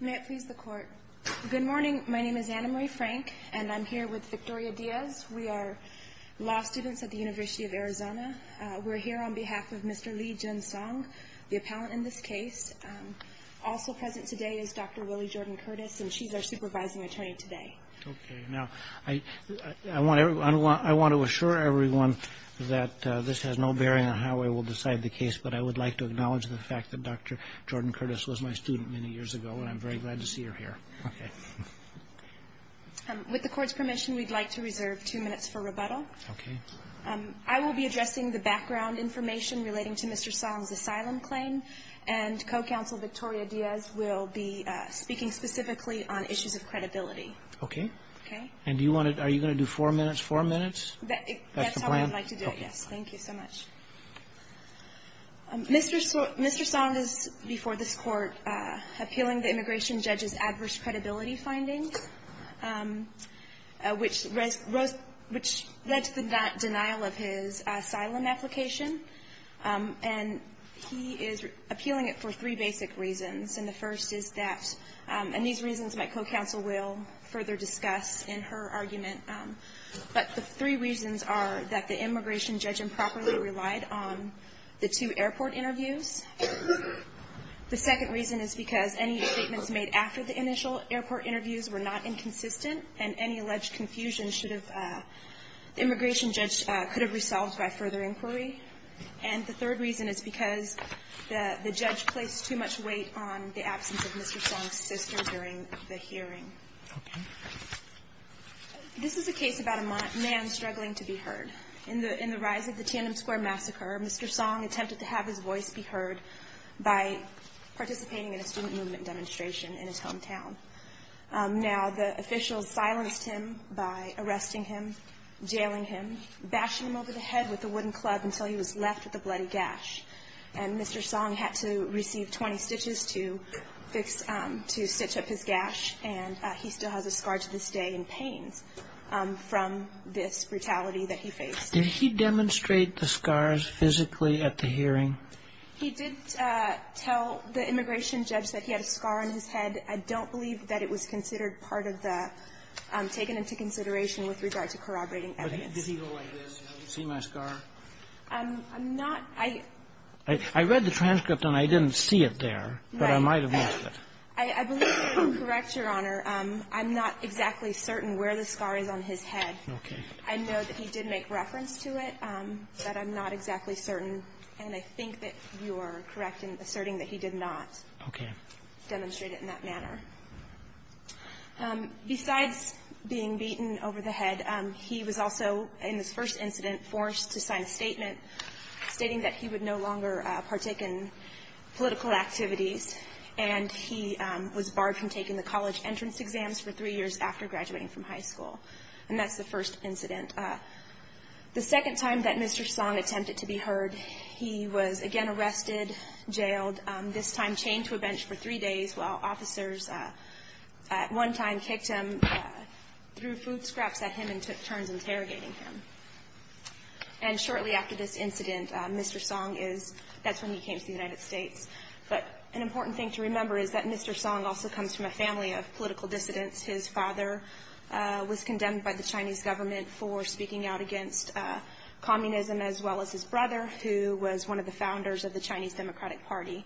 May it please the court. Good morning. My name is Anna Marie Frank and I'm here with Victoria Diaz. We are law students at the University of Arizona. We're here on behalf of Mr. Lee Jin Song, the appellant in this case. Also present today is Dr. Willie Jordan Curtis and she's our supervising attorney today. Okay. Now, I want to assure everyone that this has no bearing on how I will decide the case, but I would like to acknowledge the fact that Dr. Jordan Curtis was my student many years ago and I'm very glad to see her here. With the court's permission, we'd like to reserve two minutes for rebuttal. Okay. I will be addressing the background information relating to Mr. Song's asylum claim and co-counsel Victoria Diaz will be speaking specifically on issues of credibility. Okay. Okay. And do you want to, are you going to do four minutes? Four minutes? That's the plan? That's how I would like to do it, yes. Thank you so much. Mr. Song is, before this Court, appealing the immigration judge's adverse credibility findings, which led to the denial of his asylum application. And he is appealing it for three basic reasons. And the first is that, and these reasons my co-counsel will further discuss in her argument, but the three reasons are that the immigration judge improperly relied on the two airport interviews. The second reason is because any statements made after the initial airport interviews were not inconsistent and any alleged confusion should have, the immigration judge could have resolved by further inquiry. And the third reason is because the judge placed too much weight on the absence of Mr. Song's sister during the hearing. Okay. This is a case about a man struggling to be heard. In the rise of the Tandem Square Massacre, Mr. Song attempted to have his voice be heard by participating in a student movement demonstration in his hometown. Now, the officials silenced him by arresting him, jailing him, bashing him over the head with a wooden club until he was left with a bloody gash. And Mr. Song had to receive 20 stitches to fix, to stitch up his gash, and he still has a scar to this day in pains from this brutality that he faced. Did he demonstrate the scars physically at the hearing? He did tell the immigration judge that he had a scar on his head. I don't believe that it was considered part of the taken into consideration with regard to corroborating evidence. But did he go like this, you know, you see my scar? I'm not. I read the transcript and I didn't see it there. Right. But I might have missed it. I believe you're correct, Your Honor. I'm not exactly certain where the scar is on his head. Okay. I know that he did make reference to it, but I'm not exactly certain. And I think that you are correct in asserting that he did not demonstrate it in that manner. Okay. Besides being beaten over the head, he was also, in this first incident, forced to sign a statement stating that he would no longer partake in political activities. And he was barred from taking the college entrance exams for three years after graduating from high school. And that's the first incident. The second time that Mr. Song attempted to be heard, he was again arrested, jailed, this time chained to a bench for three days while officers at one time kicked him, threw food scraps at him and took turns interrogating him. And shortly after this incident, Mr. Song is – that's when he came to the United States. But an important thing to remember is that Mr. Song also comes from a family of political dissidents. His father was condemned by the Chinese government for speaking out against communism, as well as his brother, who was one of the founders of the Chinese Democratic Party.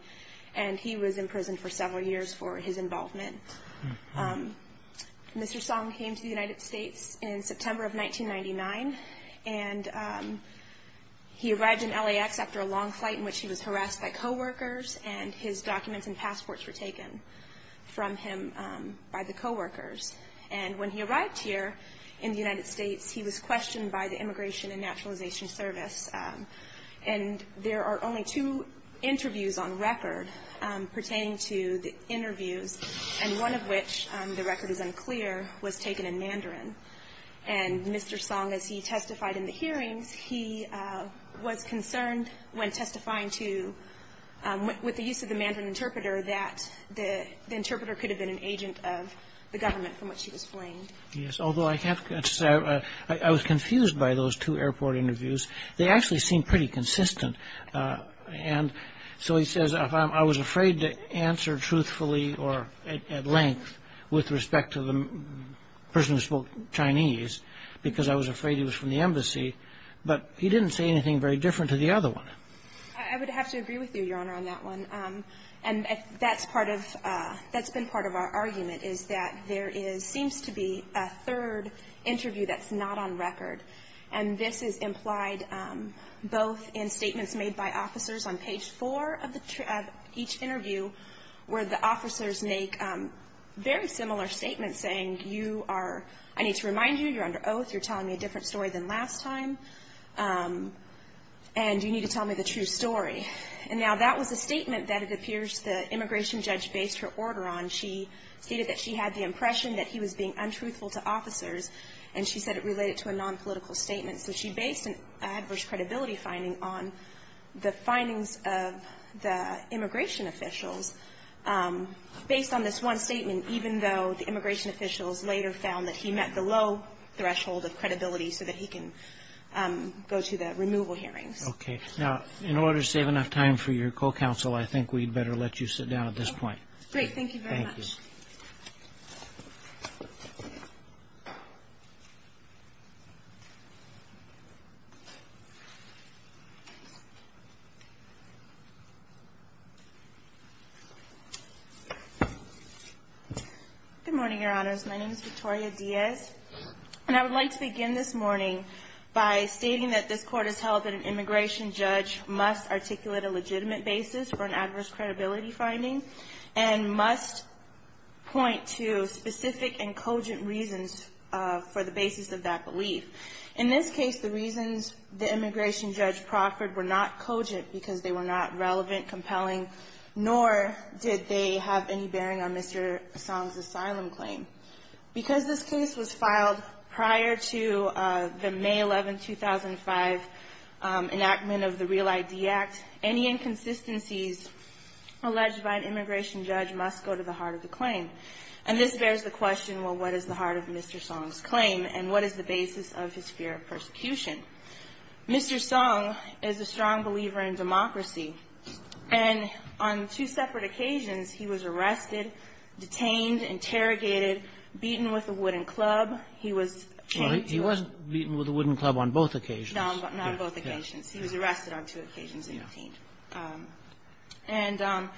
And he was in prison for several years for his involvement. Mr. Song came to the United States in September of 1999. And he arrived in LAX after a long flight in which he was harassed by coworkers and his documents and passports were taken from him by the coworkers. And when he arrived here in the United States, he was questioned by the Immigration and Naturalization Service. And there are only two interviews on record pertaining to the interviews, and one of which, the record is unclear, was taken in Mandarin. And Mr. Song, as he testified in the hearings, he was concerned when testifying to – with the use of the Mandarin interpreter that the interpreter could have been an agent of the government from which he was flamed. Yes, although I can't – I was confused by those two airport interviews. They actually seemed pretty consistent. And so he says, I was afraid to answer truthfully or at length with respect to the person who spoke Chinese because I was afraid he was from the embassy. But he didn't say anything very different to the other one. I would have to agree with you, Your Honor, on that one. And that's part of – that's been part of our argument, is that there is – seems to be a third interview that's not on record. And this is implied both in statements made by officers on page four of each interview where the officers make very similar statements saying, you are – I need to remind you, you're under oath, you're telling me a different story than last time, and you need to tell me the true story. And now that was a statement that it appears the immigration judge based her order on. She stated that she had the impression that he was being untruthful to officers, and she said it related to a nonpolitical statement. So she based an adverse credibility finding on the findings of the immigration officials based on this one statement, even though the immigration officials later found that he met the low threshold of credibility so that he can go to the removal hearings. Okay. Now, in order to save enough time for your co-counsel, I think we'd better let you sit down at this point. Great. Thank you very much. Thank you. Good morning, Your Honors. My name is Victoria Diaz, and I would like to begin this morning by stating that this Court has held that an immigration judge must articulate a legitimate basis for an adverse credibility finding and must point to specific and cogent reasons for the basis of that belief. In this case, the reasons the immigration judge proffered were not cogent because they were not relevant, compelling, nor did they have any bearing on Mr. Song's asylum claim. Because this case was filed prior to the May 11, 2005, enactment of the Real ID Act, any inconsistencies alleged by an immigration judge must go to the heart of the claim. And this bears the question, well, what is the heart of Mr. Song's claim, and what is the basis of his fear of persecution? Mr. Song is a strong believer in democracy. And on two separate occasions, he was arrested, detained, interrogated, beaten with a wooden club. He was chained to a ---- He wasn't beaten with a wooden club on both occasions. No, not on both occasions. He was arrested on two occasions and detained. And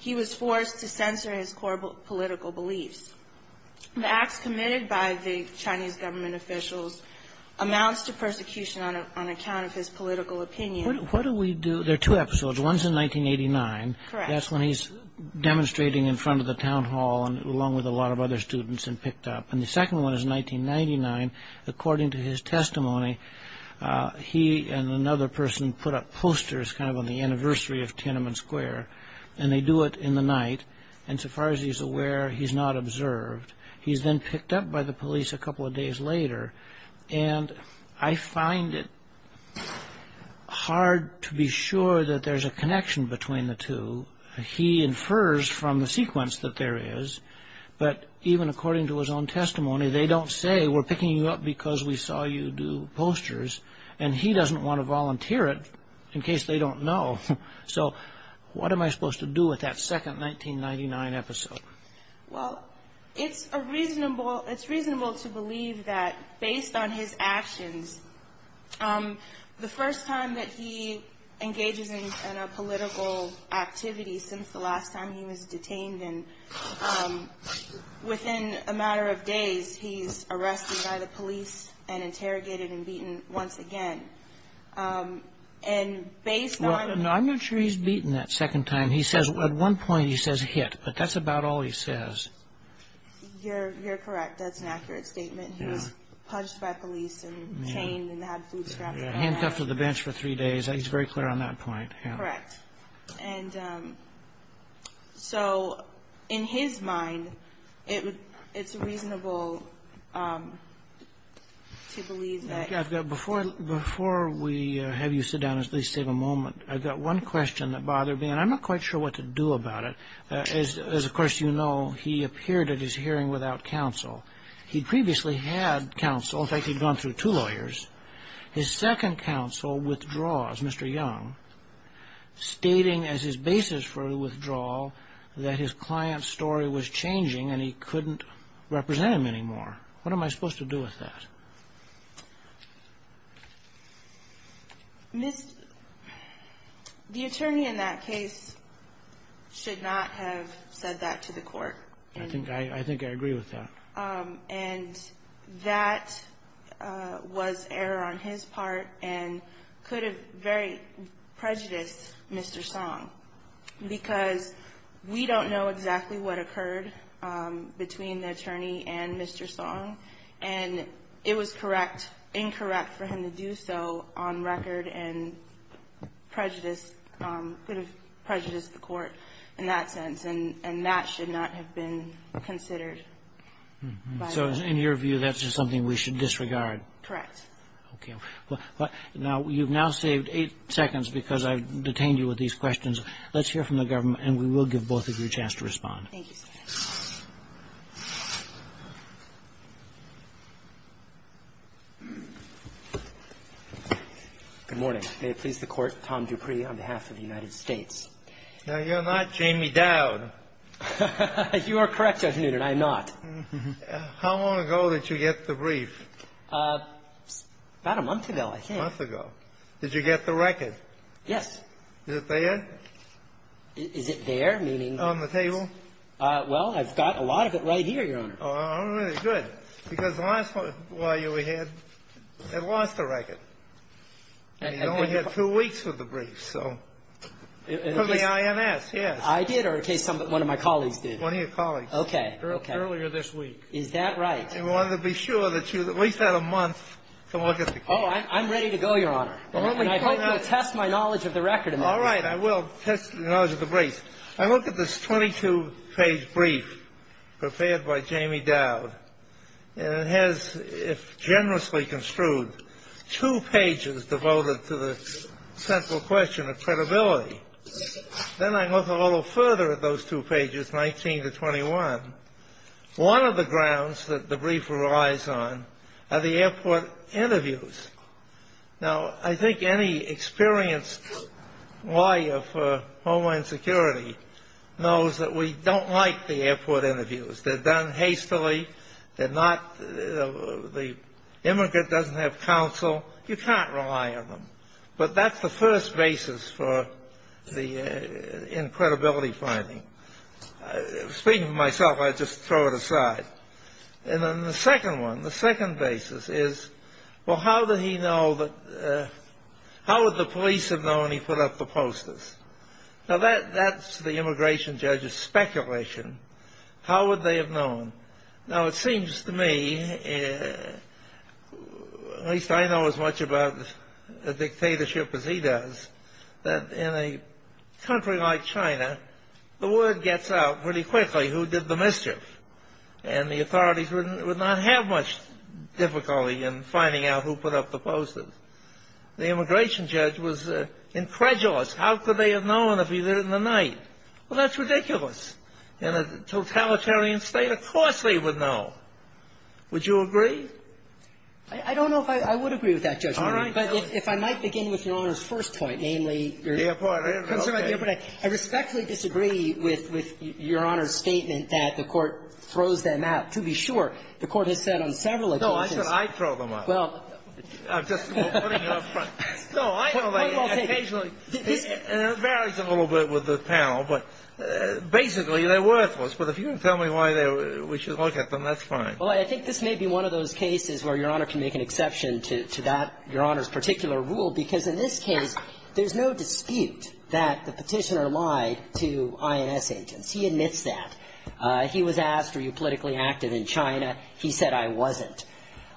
he was forced to censor his core political beliefs. The acts committed by the Chinese government officials amounts to persecution on account of his political opinion. What do we do? There are two episodes. One is in 1989. Correct. That's when he's demonstrating in front of the town hall along with a lot of other students and picked up. And the second one is in 1999. According to his testimony, he and another person put up posters kind of on the anniversary of Tiananmen Square. And they do it in the night. And so far as he's aware, he's not observed. He's then picked up by the police a couple of days later. And I find it hard to be sure that there's a connection between the two. He infers from the sequence that there is. But even according to his own testimony, they don't say, We're picking you up because we saw you do posters. And he doesn't want to volunteer it in case they don't know. So what am I supposed to do with that second 1999 episode? Well, it's reasonable to believe that based on his actions, the first time that he engages in a political activity since the last time he was detained, and within a matter of days, he's arrested by the police and interrogated and beaten once again. And based on – No, I'm not sure he's beaten that second time. He says at one point he says hit. But that's about all he says. You're correct. That's an accurate statement. He was punched by police and chained and had food scraps thrown at him. Handcuffed to the bench for three days. He's very clear on that point. Correct. And so in his mind, it's reasonable to believe that – Before we have you sit down and at least take a moment, I've got one question that bothered me, and I'm not quite sure what to do about it. As, of course, you know, he appeared at his hearing without counsel. He'd previously had counsel. In fact, he'd gone through two lawyers. His second counsel withdraws, Mr. Young, stating as his basis for withdrawal that his client's story was changing and he couldn't represent him anymore. What am I supposed to do with that? Ms. – the attorney in that case should not have said that to the court. I think I agree with that. And that was error on his part and could have very prejudiced Mr. Song because we don't know exactly what occurred between the attorney and Mr. Song. And it was correct – incorrect for him to do so on record and prejudice – could have prejudiced the court in that sense. And that should not have been considered by the court. So in your view, that's just something we should disregard. Correct. Okay. Now, you've now saved eight seconds because I've detained you with these questions. Let's hear from the government, and we will give both of you a chance to respond. Thank you, Justice. Good morning. May it please the Court, Tom Dupree on behalf of the United States. Now, you're not Jamie Dowd. You are correct, Judge Newton. I am not. How long ago did you get the brief? About a month ago, I think. A month ago. Did you get the record? Yes. Is it there? Is it there, meaning? On the table. Well, I've got a lot of it right here, Your Honor. All right. Good. Because the last one while you were here, they lost the record. And you only had two weeks with the brief, so. For the INS, yes. I did, or in case one of my colleagues did. One of your colleagues. Okay. Earlier this week. Is that right? And we wanted to be sure that you at least had a month to look at the case. Oh, I'm ready to go, Your Honor. And I hope you'll test my knowledge of the record. All right. I will test the knowledge of the brief. I look at this 22-page brief prepared by Jamie Dowd, and it has, if generously construed, two pages devoted to the central question of credibility. Then I look a little further at those two pages, 19 to 21. One of the grounds that the brief relies on are the airport interviews. Now, I think any experienced lawyer for Homeland Security knows that we don't like the airport interviews. They're done hastily. They're not the immigrant doesn't have counsel. You can't rely on them. But that's the first basis for the credibility finding. Speaking for myself, I just throw it aside. And then the second one, the second basis is, well, how would the police have known he put up the posters? Now, that's the immigration judge's speculation. How would they have known? Now, it seems to me, at least I know as much about a dictatorship as he does, that in a country like China, the word gets out pretty quickly who did the mischief. And the authorities would not have much difficulty in finding out who put up the posters. The immigration judge was incredulous. How could they have known if he did it in the night? Well, that's ridiculous. In a totalitarian state, of course they would know. Would you agree? I don't know if I would agree with that, Judge. All right. But if I might begin with Your Honor's first point, namely, your concern about the airport. I respectfully disagree with Your Honor's statement that the Court throws them out. To be sure, the Court has said on several occasions. No, I said I'd throw them out. Well. I'm just putting it up front. No, I will take it. Occasionally. It varies a little bit with the panel. But basically, they're worthless. But if you can tell me why we should look at them, that's fine. Well, I think this may be one of those cases where Your Honor can make an exception to that, Your Honor's particular rule. Because in this case, there's no dispute that the Petitioner lied to INS agents. He admits that. He was asked, are you politically active in China? He said, I wasn't.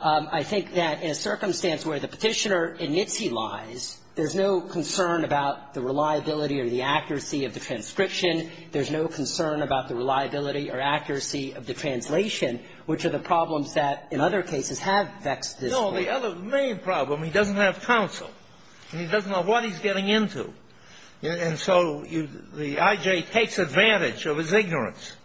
I think that in a circumstance where the Petitioner admits he lies, there's no concern about the reliability or the accuracy of the transcription. There's no concern about the reliability or accuracy of the translation, which are the problems that in other cases have vexed this Court. The other main problem, he doesn't have counsel. He doesn't know what he's getting into. And so the I.J. takes advantage of his ignorance.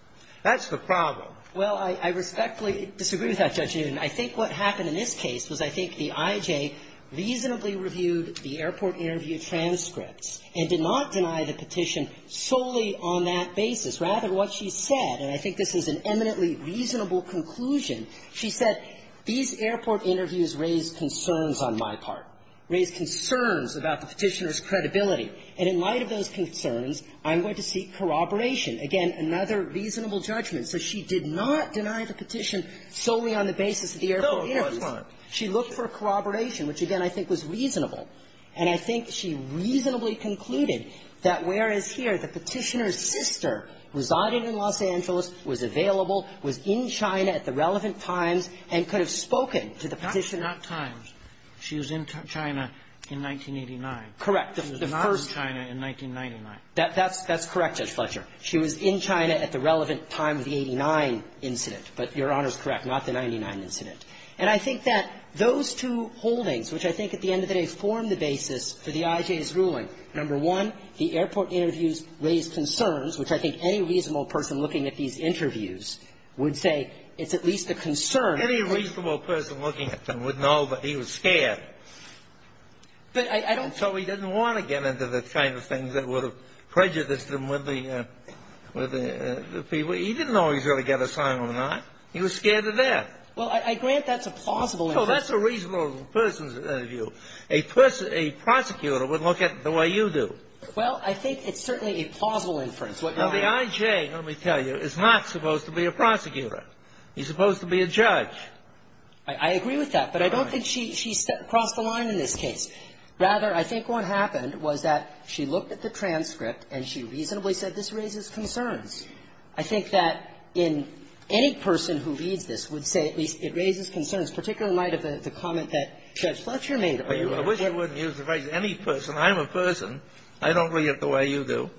That's the problem. Well, I respectfully disagree with that, Judge Newton. I think what happened in this case was I think the I.J. reasonably reviewed the airport interview transcripts and did not deny the petition solely on that basis. Rather, what she said, and I think this is an eminently reasonable conclusion, she said, these airport interviews raised concerns on my part, raised concerns about the Petitioner's credibility. And in light of those concerns, I'm going to seek corroboration. Again, another reasonable judgment. So she did not deny the petition solely on the basis of the airport interviews. She looked for corroboration, which, again, I think was reasonable. And I think that those two holdings, which I think at the end of the day formed the basis for the I.J.'s ruling, number one, the airport interviews raised concerns, looking at these interviews, would say it's at least a concern. Any reasonable person looking at them would know that he was scared. But I don't so he didn't want to get into the kind of things that would have prejudiced him with the people. He didn't know he was going to get assigned or not. He was scared to death. Well, I grant that's a plausible inference. So that's a reasonable person's view. A prosecutor would look at it the way you do. Well, I think it's certainly a plausible inference. Now, the I.J., let me tell you, is not supposed to be a prosecutor. He's supposed to be a judge. I agree with that. But I don't think she crossed the line in this case. Rather, I think what happened was that she looked at the transcript and she reasonably said this raises concerns. I think that in any person who reads this would say at least it raises concerns, particularly in light of the comment that Judge Fletcher made. I wish you wouldn't use the phrase any person. I'm a person. I don't read it the way you do.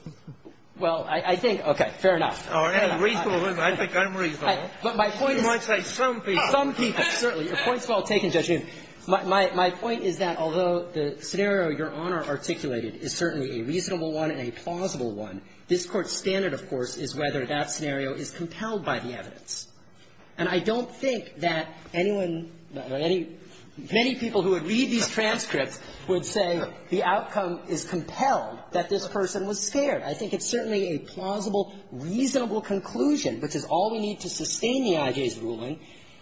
Well, I think, okay, fair enough. All right. Reasonable. I think I'm reasonable. But my point is you might say some people. Some people, certainly. Your point's well taken, Judge Newman. My point is that although the scenario Your Honor articulated is certainly a reasonable one and a plausible one, this Court's standard, of course, is whether that scenario is compelled by the evidence. And I don't think that anyone, many people who would read these transcripts would say the outcome is compelled, that this person was scared. I think it's certainly a plausible, reasonable conclusion, which is all we need to sustain the IJ's ruling,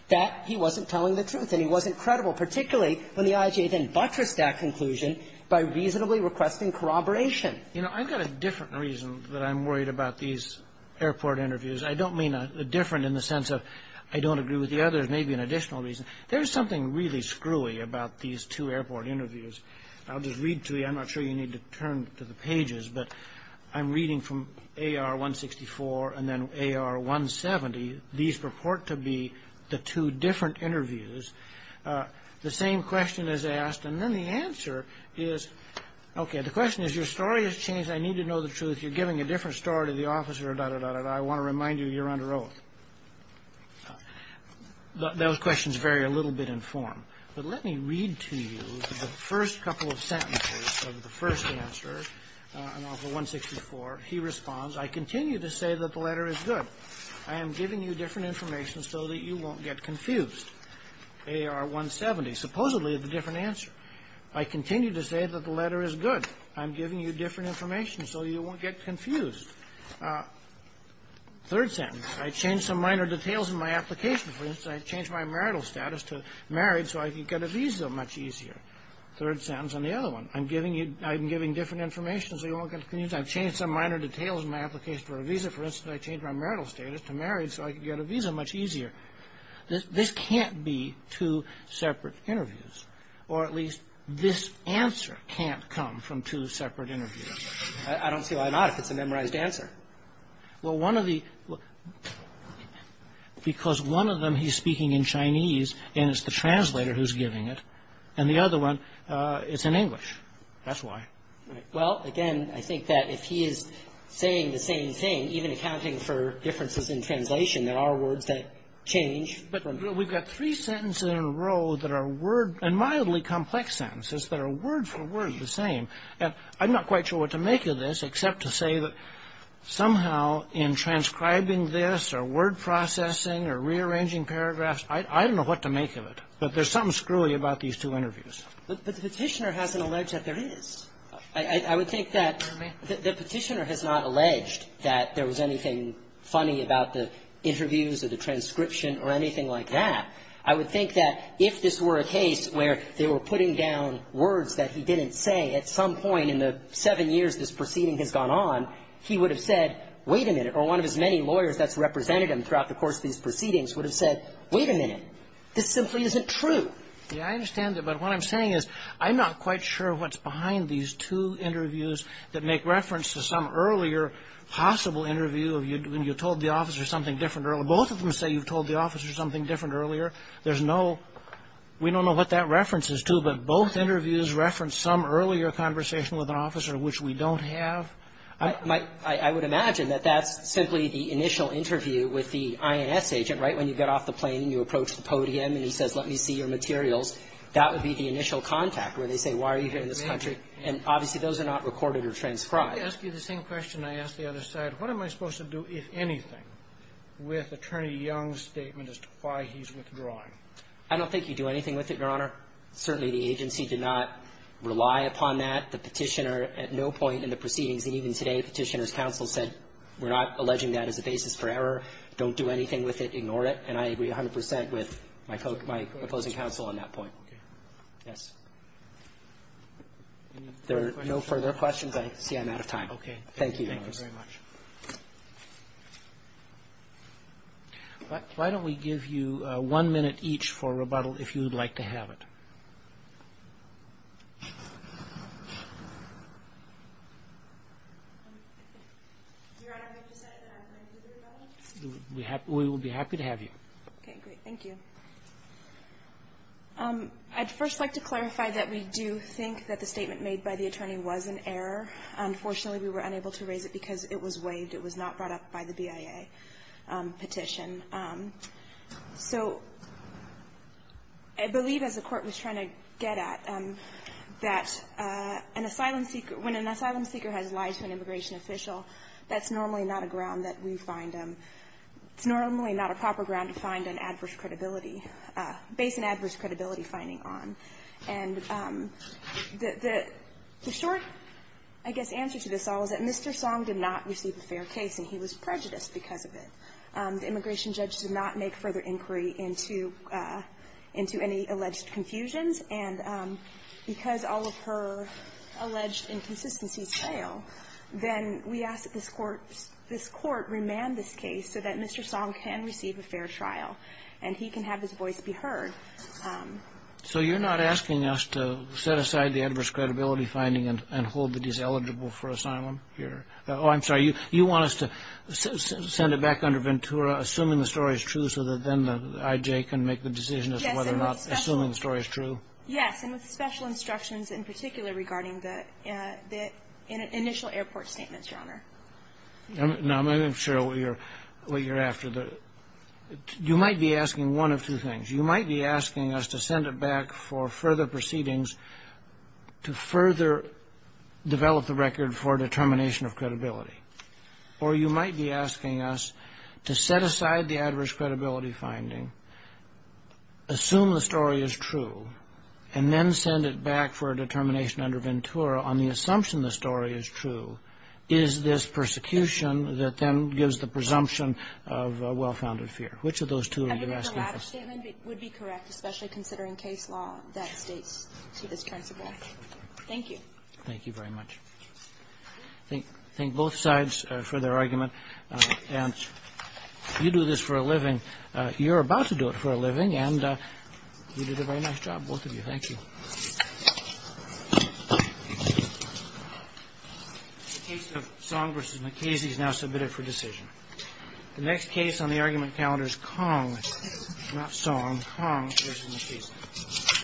that he wasn't telling the truth and he wasn't credible, particularly when the IJ then buttressed that conclusion by reasonably requesting corroboration. You know, I've got a different reason that I'm worried about these airport interviews. I don't mean a different in the sense of I don't agree with the others, maybe an additional reason. There's something really screwy about these two airport interviews. I'll just read to you. I'm not sure you need to turn to the pages. But I'm reading from AR-164 and then AR-170. These purport to be the two different interviews. The same question is asked. And then the answer is, okay, the question is your story has changed. I need to know the truth. You're giving a different story to the officer, da-da-da-da-da. I want to remind you you're under oath. Those questions vary a little bit in form. But let me read to you the first couple of sentences of the first answer in AR-164. He responds, I continue to say that the letter is good. I am giving you different information so that you won't get confused. AR-170, supposedly the different answer. I continue to say that the letter is good. I'm giving you different information so you won't get confused. Third sentence. I change some minor details in my application. For instance, I change my marital status to married so I can get a visa much easier. Third sentence on the other one. I'm giving you – I'm giving different information so you won't get confused. I've changed some minor details in my application for a visa. For instance, I change my marital status to married so I can get a visa much easier. This can't be two separate interviews. Or at least this answer can't come from two separate interviews. I don't see why not if it's a memorized answer. Well, one of the – because one of them he's speaking in Chinese and it's the translator who's giving it, and the other one, it's in English. That's why. Well, again, I think that if he is saying the same thing, even accounting for differences in translation, there are words that change. But we've got three sentences in a row that are word – and mildly complex sentences that are word for word the same. And I'm not quite sure what to make of this except to say that somehow in transcribing this or word processing or rearranging paragraphs, I don't know what to make of it. But there's something screwy about these two interviews. But the Petitioner hasn't alleged that there is. I would think that the Petitioner has not alleged that there was anything funny about the interviews or the transcription or anything like that. I would think that if this were a case where they were putting down words that he didn't say, at some point in the seven years this proceeding has gone on, he would have said, wait a minute. Or one of his many lawyers that's represented him throughout the course of these proceedings would have said, wait a minute, this simply isn't true. Yeah, I understand that. But what I'm saying is I'm not quite sure what's behind these two interviews that make reference to some earlier possible interview when you told the officer something different earlier. Both of them say you've told the officer something different earlier. There's no – we don't know what that reference is to. So both interviews reference some earlier conversation with an officer which we don't have? I would imagine that that's simply the initial interview with the INS agent, right, when you get off the plane and you approach the podium and he says, let me see your materials. That would be the initial contact where they say, why are you here in this country? And obviously, those are not recorded or transcribed. Let me ask you the same question I asked the other side. What am I supposed to do, if anything, with Attorney Young's statement as to why he's withdrawing? I don't think you do anything with it, Your Honor. Certainly, the agency did not rely upon that. The Petitioner at no point in the proceedings, and even today, Petitioner's counsel said we're not alleging that as a basis for error. Don't do anything with it. Ignore it. And I agree 100 percent with my opposing counsel on that point. Okay. Yes. Any further questions? There are no further questions. I see I'm out of time. Okay. Thank you, Your Honor. Thank you very much. Why don't we give you one minute each for rebuttal, if you would like to have it. We will be happy to have you. Okay. Great. Thank you. I'd first like to clarify that we do think that the statement made by the attorney was an error. Unfortunately, we were unable to raise it because it was waived. It was not brought up by the BIA petition. So I believe, as the Court was trying to get at, that an asylum seeker, when an asylum seeker has lied to an immigration official, that's normally not a ground that we find them. It's normally not a proper ground to find an adverse credibility, base an adverse credibility finding on. And the short, I guess, answer to this all is that Mr. Song did not receive a fair case, and he was prejudiced because of it. The immigration judge did not make further inquiry into any alleged confusions. And because all of her alleged inconsistencies fail, then we ask that this Court remand this case so that Mr. Song can receive a fair trial and he can have his voice be heard. So you're not asking us to set aside the adverse credibility finding and hold that he's eligible for asylum here? Oh, I'm sorry. You want us to send it back under Ventura, assuming the story is true, so that then the IJ can make the decision as to whether or not assuming the story is true? Yes, and with special instructions in particular regarding the initial airport statements, Your Honor. Now, maybe I'm sure what you're after. You might be asking one of two things. You might be asking us to send it back for further proceedings to further develop the record for determination of credibility. Or you might be asking us to set aside the adverse credibility finding, assume the story is true, and then send it back for a determination under Ventura on the assumption the story is true. Is this persecution that then gives the presumption of a well-founded fear? Which of those two are you asking for? I think the latter statement would be correct, especially considering case law that states to this principle. Thank you. Thank you very much. Thank both sides for their argument. And you do this for a living. You're about to do it for a living, and you did a very nice job, both of you. Thank you. The case of Song v. McKasey is now submitted for decision. The next case on the argument calendar is Kong, not Song, Kong v. McKasey.